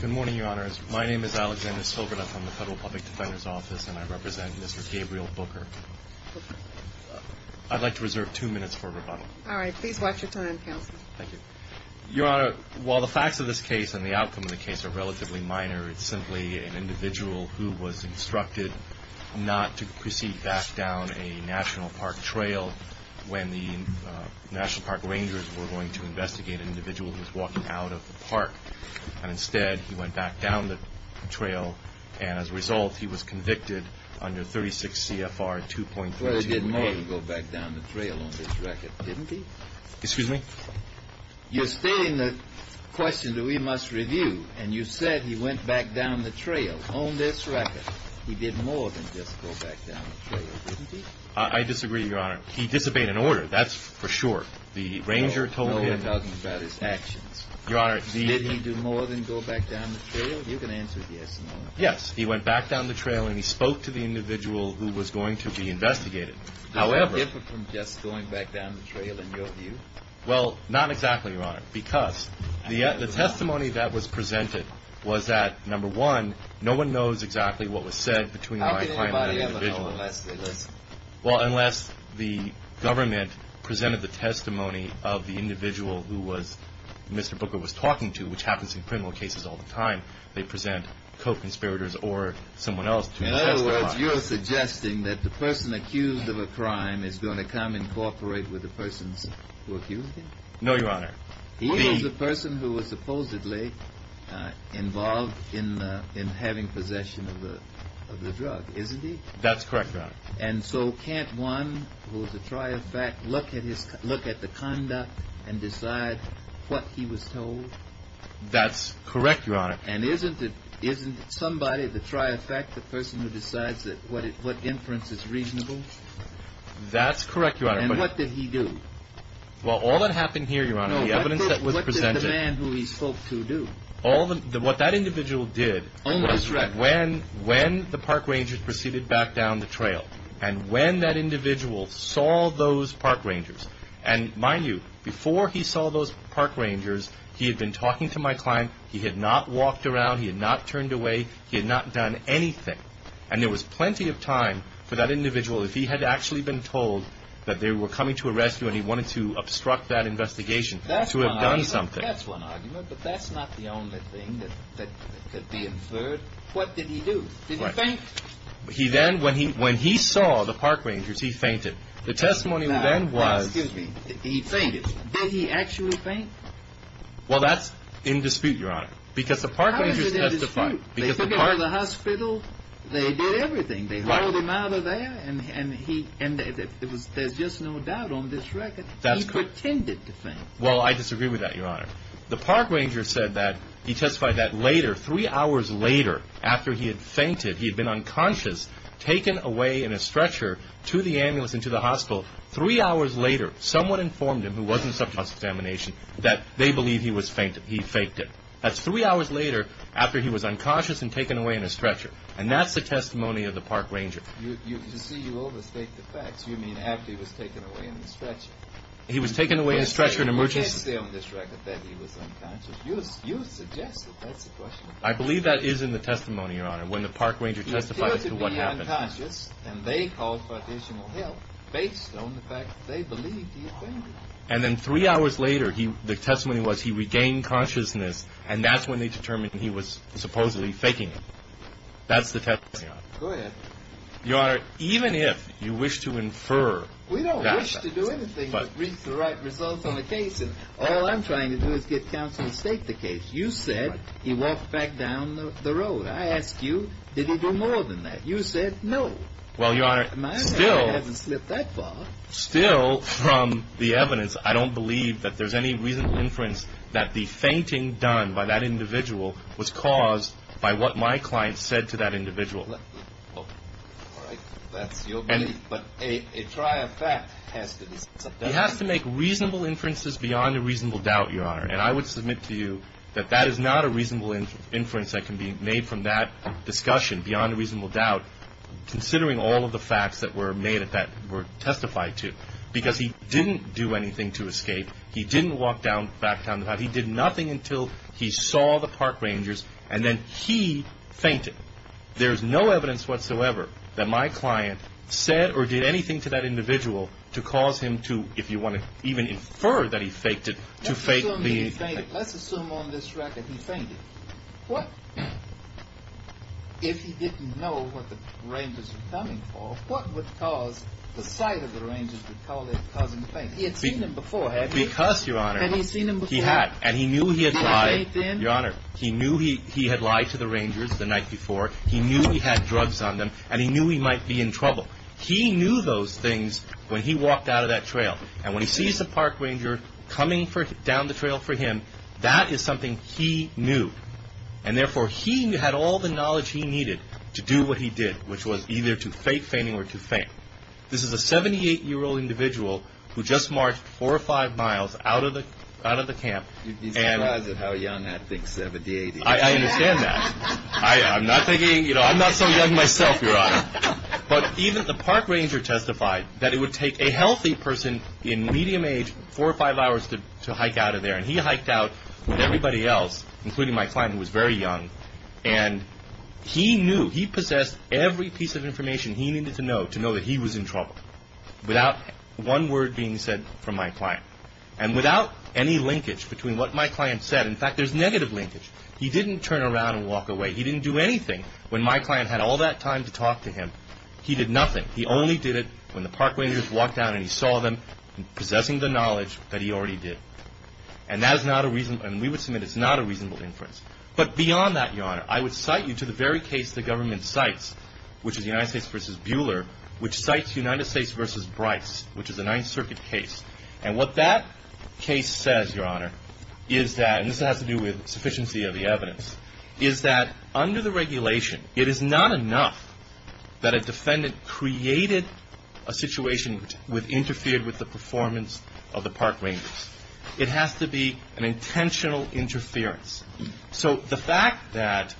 Good morning, Your Honors. My name is Alexander Silverduff. I'm with the Federal Public Defender's Office, and I represent Mr. Gabriel Bucher. I'd like to reserve two minutes for rebuttal. All right. Please watch your time, counsel. Thank you. Your Honor, while the facts of this case and the outcome of the case are relatively minor, it's simply an individual who was instructed not to proceed back down a national park trail when the national park rangers were going to investigate an individual who was walking out of the park. And instead, he went back down the trail, and as a result, he was convicted under 36 CFR 2.32. Well, he did more than go back down the trail on this record, didn't he? Excuse me? You're stating the question that we must review, and you said he went back down the trail on this record. He did more than just go back down the trail, didn't he? I disagree, Your Honor. He disobeyed an order. That's for sure. The ranger told him— No, we're talking about his actions. Your Honor, the— Did he do more than go back down the trail? You can answer yes or no. Yes. He went back down the trail, and he spoke to the individual who was going to be investigated. However— Did it differ from just going back down the trail in your view? Well, not exactly, Your Honor, because the testimony that was presented was that, number one, no one knows exactly what was said between my client and the individual. Well, unless the government presented the testimony of the individual who Mr. Booker was talking to, which happens in criminal cases all the time, they present co-conspirators or someone else to testify. In other words, you're suggesting that the person accused of a crime is going to come and cooperate with the person who accused him? No, Your Honor. He was the person who was supposedly involved in having possession of the drug, isn't he? That's correct, Your Honor. And so can't one who is a tri-effect look at the conduct and decide what he was told? That's correct, Your Honor. And isn't it somebody, the tri-effect, the person who decides what inference is reasonable? That's correct, Your Honor. And what did he do? Well, all that happened here, Your Honor, the evidence that was presented— What did the man who he spoke to do? What that individual did was when the park rangers proceeded back down the trail and when that individual saw those park rangers. And mind you, before he saw those park rangers, he had been talking to my client. He had not walked around. He had not turned away. He had not done anything. And there was plenty of time for that individual, if he had actually been told that they were coming to arrest him and he wanted to obstruct that investigation, to have done something. That's one argument. But that's not the only thing that could be inferred. What did he do? Did he faint? He then, when he saw the park rangers, he fainted. The testimony then was— Excuse me. He fainted. Did he actually faint? Well, that's in dispute, Your Honor. Because the park rangers testified. How is it in dispute? They took him to the hospital. They did everything. They hauled him out of there. And there's just no doubt on this record. He pretended to faint. Well, I disagree with that, Your Honor. The park ranger said that—he testified that later, three hours later, after he had fainted, he had been unconscious, taken away in a stretcher to the ambulance and to the hospital. Three hours later, someone informed him, who wasn't subject to cross-examination, that they believe he faked it. That's three hours later, after he was unconscious and taken away in a stretcher. And that's the testimony of the park ranger. To see you overstate the facts, you mean after he was taken away in the stretcher. He was taken away in a stretcher in an emergency. We can't say on this record that he was unconscious. You suggested that's the question. I believe that is in the testimony, Your Honor, when the park ranger testified as to what happened. He appeared to be unconscious, and they called for additional help based on the fact that they believed he fainted. And then three hours later, the testimony was he regained consciousness, and that's when they determined he was supposedly faking it. That's the testimony, Your Honor. Go ahead. Your Honor, even if you wish to infer— We don't wish to do anything to reach the right results on the case, and all I'm trying to do is get counsel to state the case. You said he walked back down the road. I ask you, did he do more than that? You said no. Well, Your Honor, still— My honor, it hasn't slipped that far. Still, from the evidence, I don't believe that there's any reason to inference that the fainting done by that individual was caused by what my client said to that individual. All right. That's your belief. But a triad fact has to be— He has to make reasonable inferences beyond a reasonable doubt, Your Honor. And I would submit to you that that is not a reasonable inference that can be made from that discussion, beyond a reasonable doubt, considering all of the facts that were made that were testified to. Because he didn't do anything to escape. He didn't walk back down the road. He did nothing until he saw the park rangers, and then he fainted. There's no evidence whatsoever that my client said or did anything to that individual to cause him to, if you want to even infer that he faked it, to fake being fainted. Let's assume that he fainted. Let's assume on this record he fainted. What—if he didn't know what the rangers were coming for, what would cause the sight of the rangers to call it causing the fainting? He had seen them before, hadn't he? Because, Your Honor— Had he seen them before? He had. And he knew he had lied— Did he faint then? Your Honor, he knew he had lied to the rangers the night before. He knew he had drugs on them, and he knew he might be in trouble. He knew those things when he walked out of that trail. And when he sees the park ranger coming down the trail for him, that is something he knew. And therefore, he had all the knowledge he needed to do what he did, which was either to fake fainting or to faint. This is a 78-year-old individual who just marched four or five miles out of the camp. You'd be surprised at how young that thinks 78 is. I understand that. I'm not thinking—you know, I'm not so young myself, Your Honor. But even the park ranger testified that it would take a healthy person in medium age four or five hours to hike out of there. And he hiked out with everybody else, including my client, who was very young. And he knew—he possessed every piece of information he needed to know to know that he was in trouble, without one word being said from my client. And without any linkage between what my client said—in fact, there's negative linkage. He didn't turn around and walk away. He didn't do anything when my client had all that time to talk to him. He did nothing. He only did it when the park rangers walked out and he saw them, possessing the knowledge that he already did. And that is not a reasonable—and we would submit it's not a reasonable inference. But beyond that, Your Honor, I would cite you to the very case the government cites, which is United States v. Buehler, which cites United States v. Bryce, which is a Ninth Circuit case. And what that case says, Your Honor, is that—and this has to do with sufficiency of the evidence— is that under the regulation, it is not enough that a defendant created a situation which interfered with the performance of the park rangers. It has to be an intentional interference. So the fact that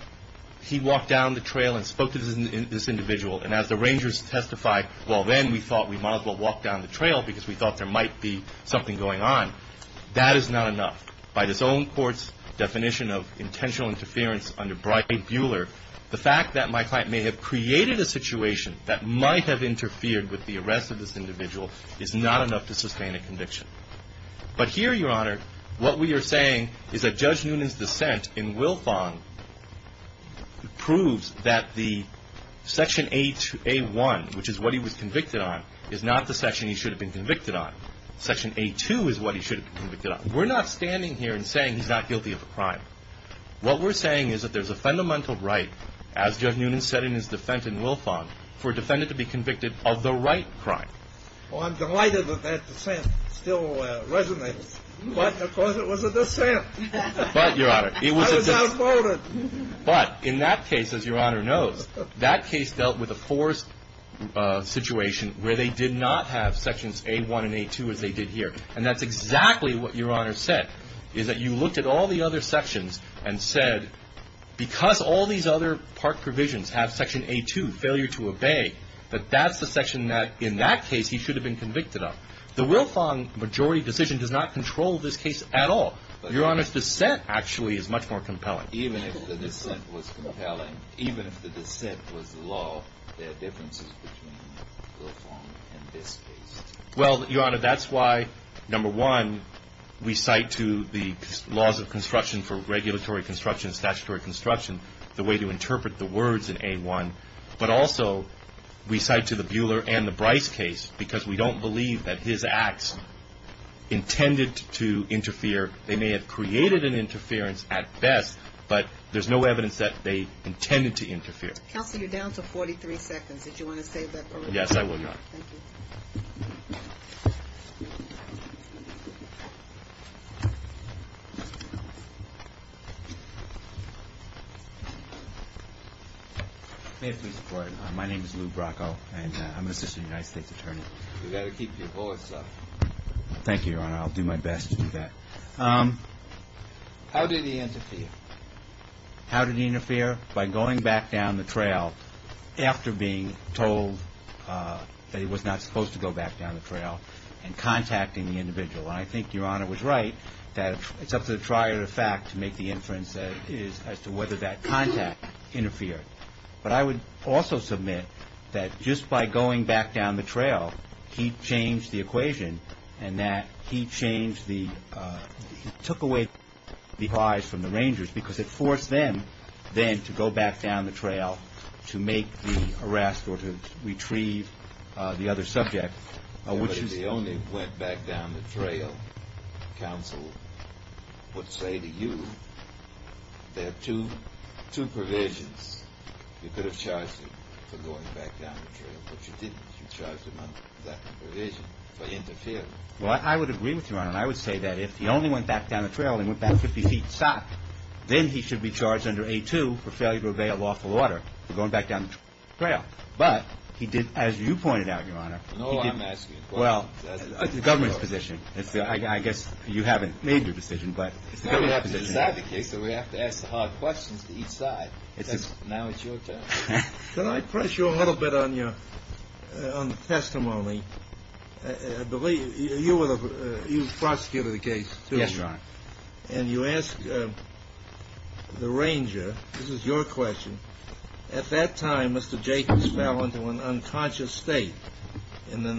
he walked down the trail and spoke to this individual, and as the rangers testified, well, then we thought we might as well walk down the trail because we thought there might be something going on. That is not enough. By this own court's definition of intentional interference under Bryce v. Buehler, the fact that my client may have created a situation that might have interfered with the arrest of this individual is not enough to sustain a conviction. But here, Your Honor, what we are saying is that Judge Noonan's dissent in Wilfong proves that the Section A1, which is what he was convicted on, is not the section he should have been convicted on. Section A2 is what he should have been convicted on. We're not standing here and saying he's not guilty of a crime. What we're saying is that there's a fundamental right, as Judge Noonan said in his dissent in Wilfong, for a defendant to be convicted of the right crime. Well, I'm delighted that that dissent still resonates. But of course it was a dissent. But, Your Honor, it was a dissent. I was outvoted. But in that case, as Your Honor knows, that case dealt with a forced situation where they did not have Sections A1 and A2 as they did here. And that's exactly what Your Honor said, is that you looked at all the other sections and said, because all these other park provisions have Section A2, failure to obey, that that's the section that, in that case, he should have been convicted of. The Wilfong majority decision does not control this case at all. Your Honor's dissent actually is much more compelling. Even if the dissent was compelling, even if the dissent was law, there are differences between Wilfong and this case. Well, Your Honor, that's why, number one, we cite to the laws of construction for regulatory construction and statutory construction the way to interpret the words in A1. But also we cite to the Buhler and the Bryce case because we don't believe that his acts intended to interfere. They may have created an interference at best, but there's no evidence that they intended to interfere. Counsel, you're down to 43 seconds. Did you want to save that for later? Yes, I will, Your Honor. Thank you. May I please report? My name is Lou Bracco, and I'm an assistant United States attorney. You've got to keep your voice up. Thank you, Your Honor. I'll do my best to do that. How did he interfere? How did he interfere? By going back down the trail after being told that he was not supposed to go back down the trail and contacting the individual. And I think Your Honor was right that it's up to the trier of fact to make the inference as to whether that contact interfered. But I would also submit that just by going back down the trail, he changed the equation and that he took away the prize from the rangers because it forced them then to go back down the trail to make the arrest or to retrieve the other subject. But if he only went back down the trail, counsel would say to you there are two provisions. But you didn't. You charged him under that provision for interfering. Well, I would agree with Your Honor, and I would say that if he only went back down the trail and went back 50 feet south, then he should be charged under A-2 for failure to obey a lawful order for going back down the trail. But he did, as you pointed out, Your Honor, he did. No, I'm asking a question. Well, the government's position. I guess you haven't made your decision, but it's the government's position. Now we have to decide the case, so we have to ask the hard questions to each side. Now it's your turn. Can I press you a little bit on your testimony? You were the prosecutor of the case, too. Yes, Your Honor. And you asked the ranger, this is your question, at that time Mr. Jacobs fell into an unconscious state. And then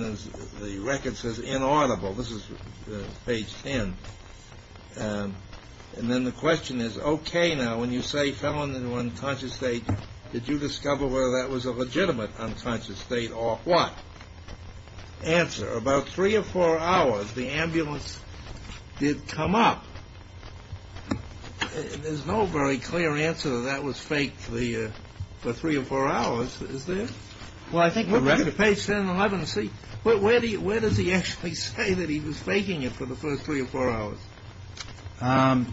the record says inaudible. This is page 10. And then the question is, okay, now, when you say fell into an unconscious state, did you discover whether that was a legitimate unconscious state or what? Answer. About three or four hours, the ambulance did come up. There's no very clear answer that that was fake for three or four hours, is there? Well, I think the record. Look at page 10 and 11 and see. Where does he actually say that he was faking it for the first three or four hours? On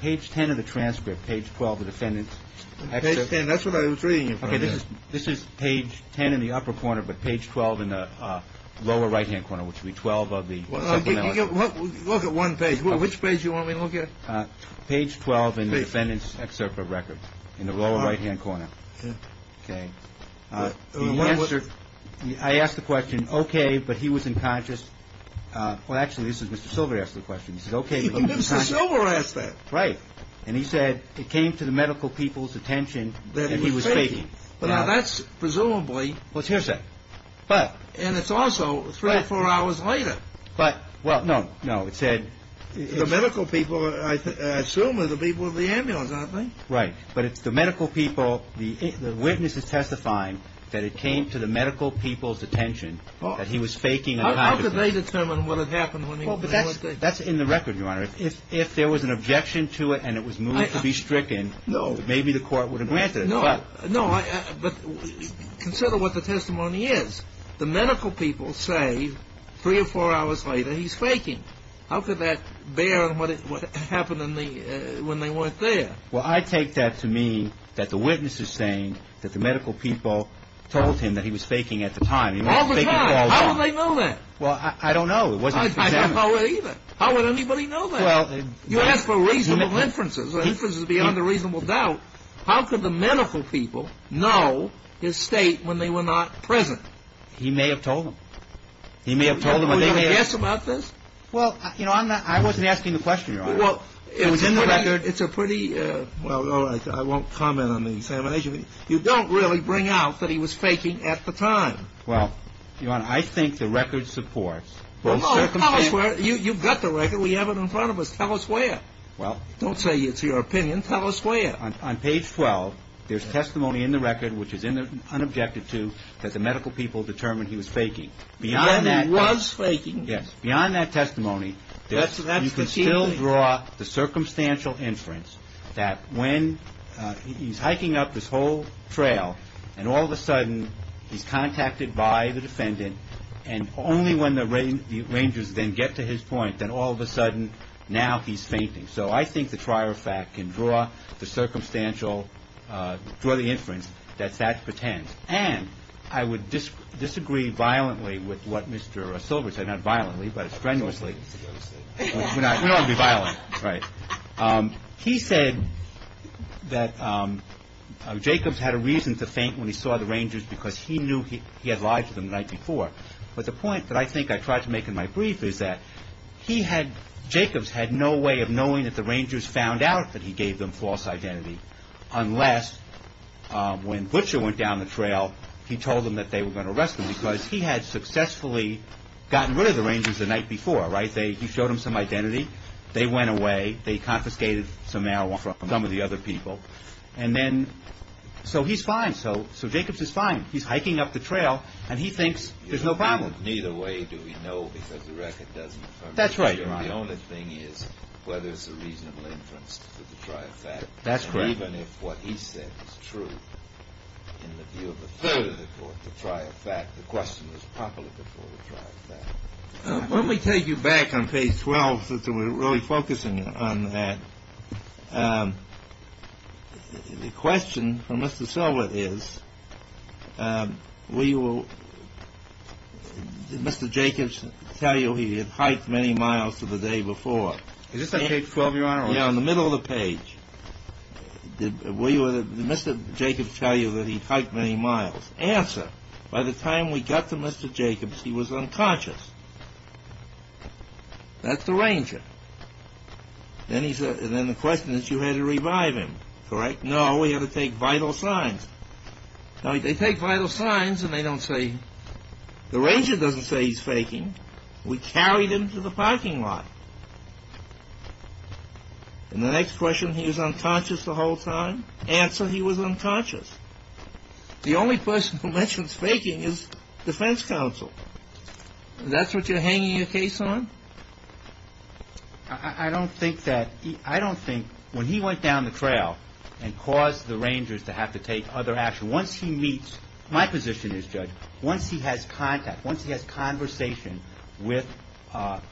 page 10 of the transcript, page 12, the defendant's excerpt. Page 10. That's what I was reading. Okay. This is page 10 in the upper corner, but page 12 in the lower right-hand corner, which would be 12 of the. Look at one page. Which page do you want me to look at? Page 12 in the defendant's excerpt of record in the lower right-hand corner. Okay. I asked the question, okay, but he was in conscious. Well, actually, this is Mr. Silver asked the question. He said, okay. Mr. Silver asked that. Right. And he said it came to the medical people's attention that he was faking. Now, that's presumably. What's his say? But. And it's also three or four hours later. But. Well, no, no. It said. The medical people, I assume, are the people of the ambulance, aren't they? Right. But it's the medical people. The witness is testifying that it came to the medical people's attention that he was faking. How could they determine what had happened? That's in the record, Your Honor. If there was an objection to it and it was moved to be stricken. No. Maybe the court would have granted it. No. But consider what the testimony is. The medical people say three or four hours later he's faking. How could that bear on what happened when they weren't there? Well, I take that to mean that the witness is saying that the medical people told him that he was faking at the time. All the time. How would they know that? Well, I don't know. It wasn't. I don't know either. How would anybody know that? Well. You ask for reasonable inferences. Inferences beyond a reasonable doubt. How could the medical people know his state when they were not present? He may have told them. He may have told them. Would you have asked about this? Well, you know, I'm not. I wasn't asking the question, Your Honor. Well, it was in the record. It's a pretty. Well, all right. I won't comment on the examination. You don't really bring out that he was faking at the time. Well, Your Honor, I think the record supports both circumstances. Tell us where. You've got the record. We have it in front of us. Tell us where. Well. Don't say it's your opinion. Tell us where. On page 12, there's testimony in the record which is unobjected to that the medical people determined he was faking. Beyond that. He was faking. Yes. Beyond that testimony, you can still draw the circumstantial inference that when he's hiking up this whole trail and all of a sudden he's contacted by the defendant and only when the Rangers then get to his point, then all of a sudden now he's fainting. So I think the trier of fact can draw the circumstantial, draw the inference that that's pretend. And I would disagree violently with what Mr. Silver said. Not violently, but strenuously. We don't want to be violent. Right. He said that Jacobs had a reason to faint when he saw the Rangers because he knew he had lied to them the night before. But the point that I think I tried to make in my brief is that he had, Jacobs had no way of knowing that the Rangers found out that he gave them false identity unless when Butcher went down the trail, he told them that they were going to arrest him because he had successfully gotten rid of the Rangers the night before. Right. They showed him some identity. They went away. They confiscated some marijuana from some of the other people. And then. So he's fine. So. So Jacobs is fine. He's hiking up the trail and he thinks there's no problem. Neither way do we know because the record doesn't. That's right. The only thing is whether it's a reasonable inference to the trial fact. That's correct. Even if what he said is true, in the view of a third of the court, the trial fact, the question was properly before the trial fact. Let me take you back on page 12 since we're really focusing on that. The question for Mr. Silver is, we will. Did Mr. Jacobs tell you he had hiked many miles to the day before? Is this on page 12, Your Honor? Yeah, in the middle of the page. Did Mr. Jacobs tell you that he hiked many miles? Answer. By the time we got to Mr. Jacobs, he was unconscious. That's the Ranger. And then the question is, you had to revive him. Correct? No, we had to take vital signs. They take vital signs and they don't say, the Ranger doesn't say he's faking. We carried him to the parking lot. And the next question, he was unconscious the whole time? Answer, he was unconscious. The only person who mentions faking is defense counsel. That's what you're hanging your case on? I don't think that, I don't think when he went down the trail and caused the Rangers to have to take other action, once he meets my position as judge, once he has contact, once he has conversation with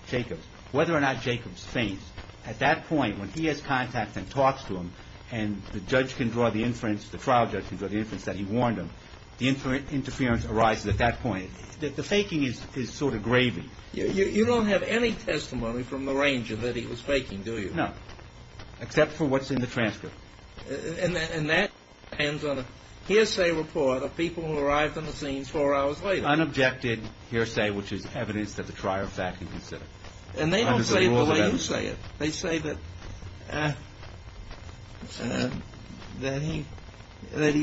Jacobs, whether or not Jacobs faints, at that point when he has contact and talks to him and the judge can draw the inference, the trial judge can draw the inference that he warned him, the interference arises at that point. The faking is sort of gravy. You don't have any testimony from the Ranger that he was faking, do you? No, except for what's in the transcript. And that depends on a hearsay report of people who arrived on the scene four hours later. Unobjected hearsay, which is evidence that the trier of fact can consider. And they don't say the way you say it. They say that he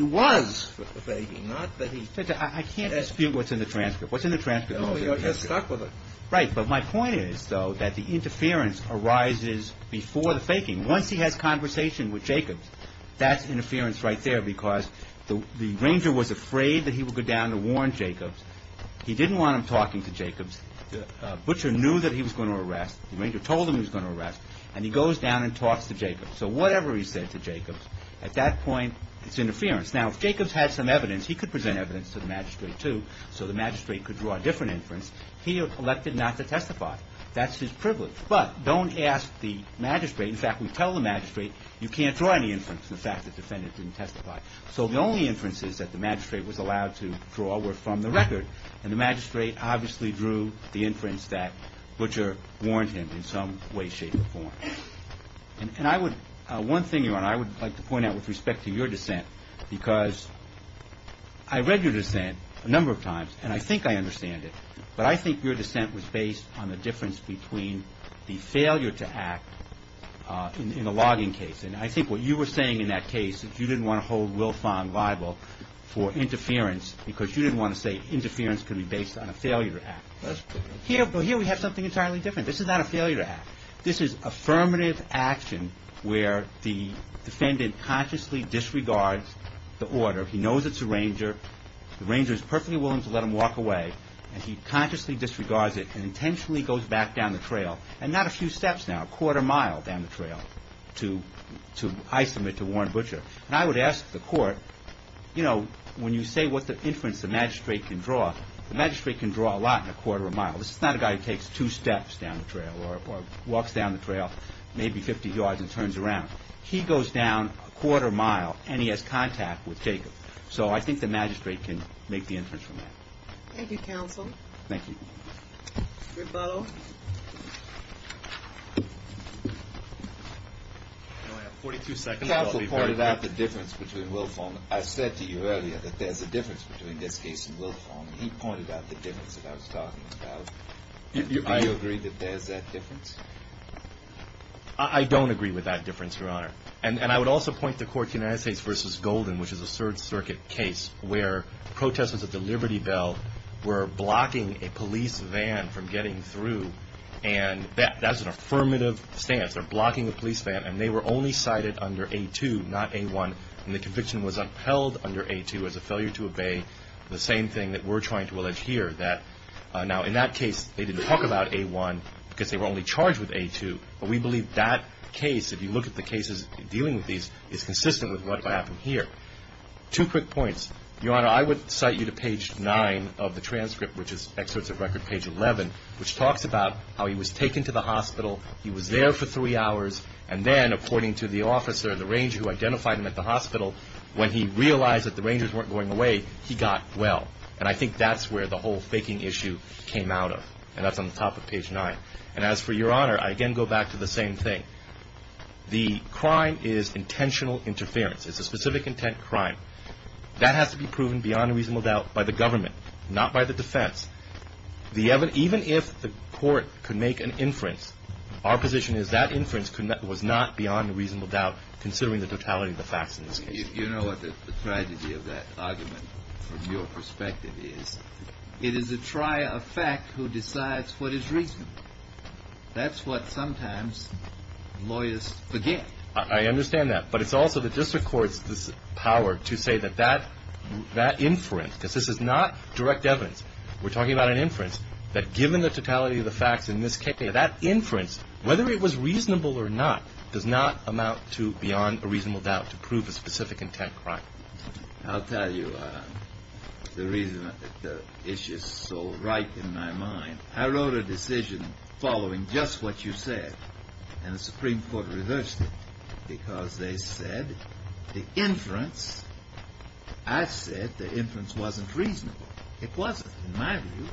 was faking, not that he... Judge, I can't dispute what's in the transcript. What's in the transcript? Because we are just stuck with it. Right, but my point is, though, that the interference arises before the faking. Once he has conversation with Jacobs, that's interference right there because the Ranger was afraid that he would go down to warn Jacobs. He didn't want him talking to Jacobs. Butcher knew that he was going to arrest. The Ranger told him he was going to arrest. And he goes down and talks to Jacobs. So whatever he said to Jacobs, at that point, it's interference. Now, if Jacobs had some evidence, he could present evidence to the magistrate, too, so the magistrate could draw a different inference. He elected not to testify. That's his privilege. But don't ask the magistrate. In fact, we tell the magistrate you can't draw any inference from the fact that the defendant didn't testify. So the only inferences that the magistrate was allowed to draw were from the record. And the magistrate obviously drew the inference that Butcher warned him in some way, shape, or form. And I would, one thing, Your Honor, I would like to point out with respect to your dissent because I read your dissent a number of times, and I think I understand it. But I think your dissent was based on the difference between the failure to act in the logging case. And I think what you were saying in that case is you didn't want to hold Will Fong liable for interference because you didn't want to say interference can be based on a failure to act. But here we have something entirely different. This is not a failure to act. This is affirmative action where the defendant consciously disregards the order. He knows it's the Ranger. The Ranger is perfectly willing to let him walk away. And he consciously disregards it and intentionally goes back down the trail, and not a few steps now, a quarter mile down the trail to isolate, to warn Butcher. And I would ask the court, you know, when you say what's the inference the magistrate can draw, the magistrate can draw a lot in a quarter of a mile. This is not a guy who takes two steps down the trail or walks down the trail maybe 50 yards and turns around. He goes down a quarter mile, and he has contact with Jacob. So I think the magistrate can make the inference from that. Thank you, counsel. Thank you. Ribo. I only have 42 seconds. Counsel pointed out the difference between Will Fong. I said to you earlier that there's a difference between this case and Will Fong. He pointed out the difference that I was talking about. Do you agree that there's that difference? I don't agree with that difference, Your Honor. And I would also point the court to United States v. Golden, which is a Third Circuit case where protesters at the Liberty Bell were blocking a police van from getting through. And that's an affirmative stance. They're blocking a police van. And they were only cited under A2, not A1. And the conviction was upheld under A2 as a failure to obey the same thing that we're trying to allege here, that now in that case they didn't talk about A1 because they were only charged with A2. But we believe that case, if you look at the cases dealing with these, is consistent with what happened here. Two quick points. Your Honor, I would cite you to page 9 of the transcript, which is excerpts of record page 11, which talks about how he was taken to the hospital. He was there for three hours. And then, according to the officer, the ranger who identified him at the hospital, when he realized that the rangers weren't going away, he got well. And I think that's where the whole faking issue came out of. And that's on the top of page 9. And as for Your Honor, I again go back to the same thing. The crime is intentional interference. It's a specific intent crime. That has to be proven beyond a reasonable doubt by the government, not by the defense. Even if the court could make an inference, our position is that inference was not beyond a reasonable doubt, considering the totality of the facts in this case. You know what the tragedy of that argument, from your perspective, is? It is a trier of fact who decides what is reasonable. That's what sometimes lawyers forget. I understand that. But it's also the district court's power to say that that inference, because this is not direct evidence, we're talking about an inference, that given the totality of the facts in this case, that inference, whether it was reasonable or not, does not amount to beyond a reasonable doubt to prove a specific intent crime. I'll tell you the reason the issue is so ripe in my mind. I wrote a decision following just what you said, and the Supreme Court reversed it because they said the inference, I said the inference wasn't reasonable. It wasn't, in my view.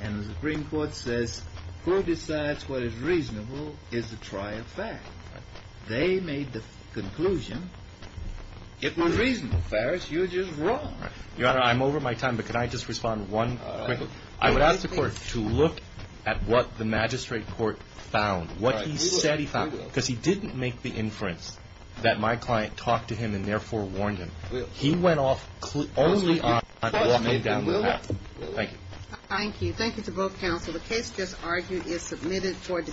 And the Supreme Court says who decides what is reasonable is a trier of fact. They made the conclusion it was reasonable. Farris, you're just wrong. Your Honor, I'm over my time, but can I just respond one quick? I would ask the court to look at what the magistrate court found, what he said he found, because he didn't make the inference that my client talked to him and therefore warned him. He went off only on walking down the path. Thank you. Thank you. Thank you to both counsel. The case just argued is submitted for discussion.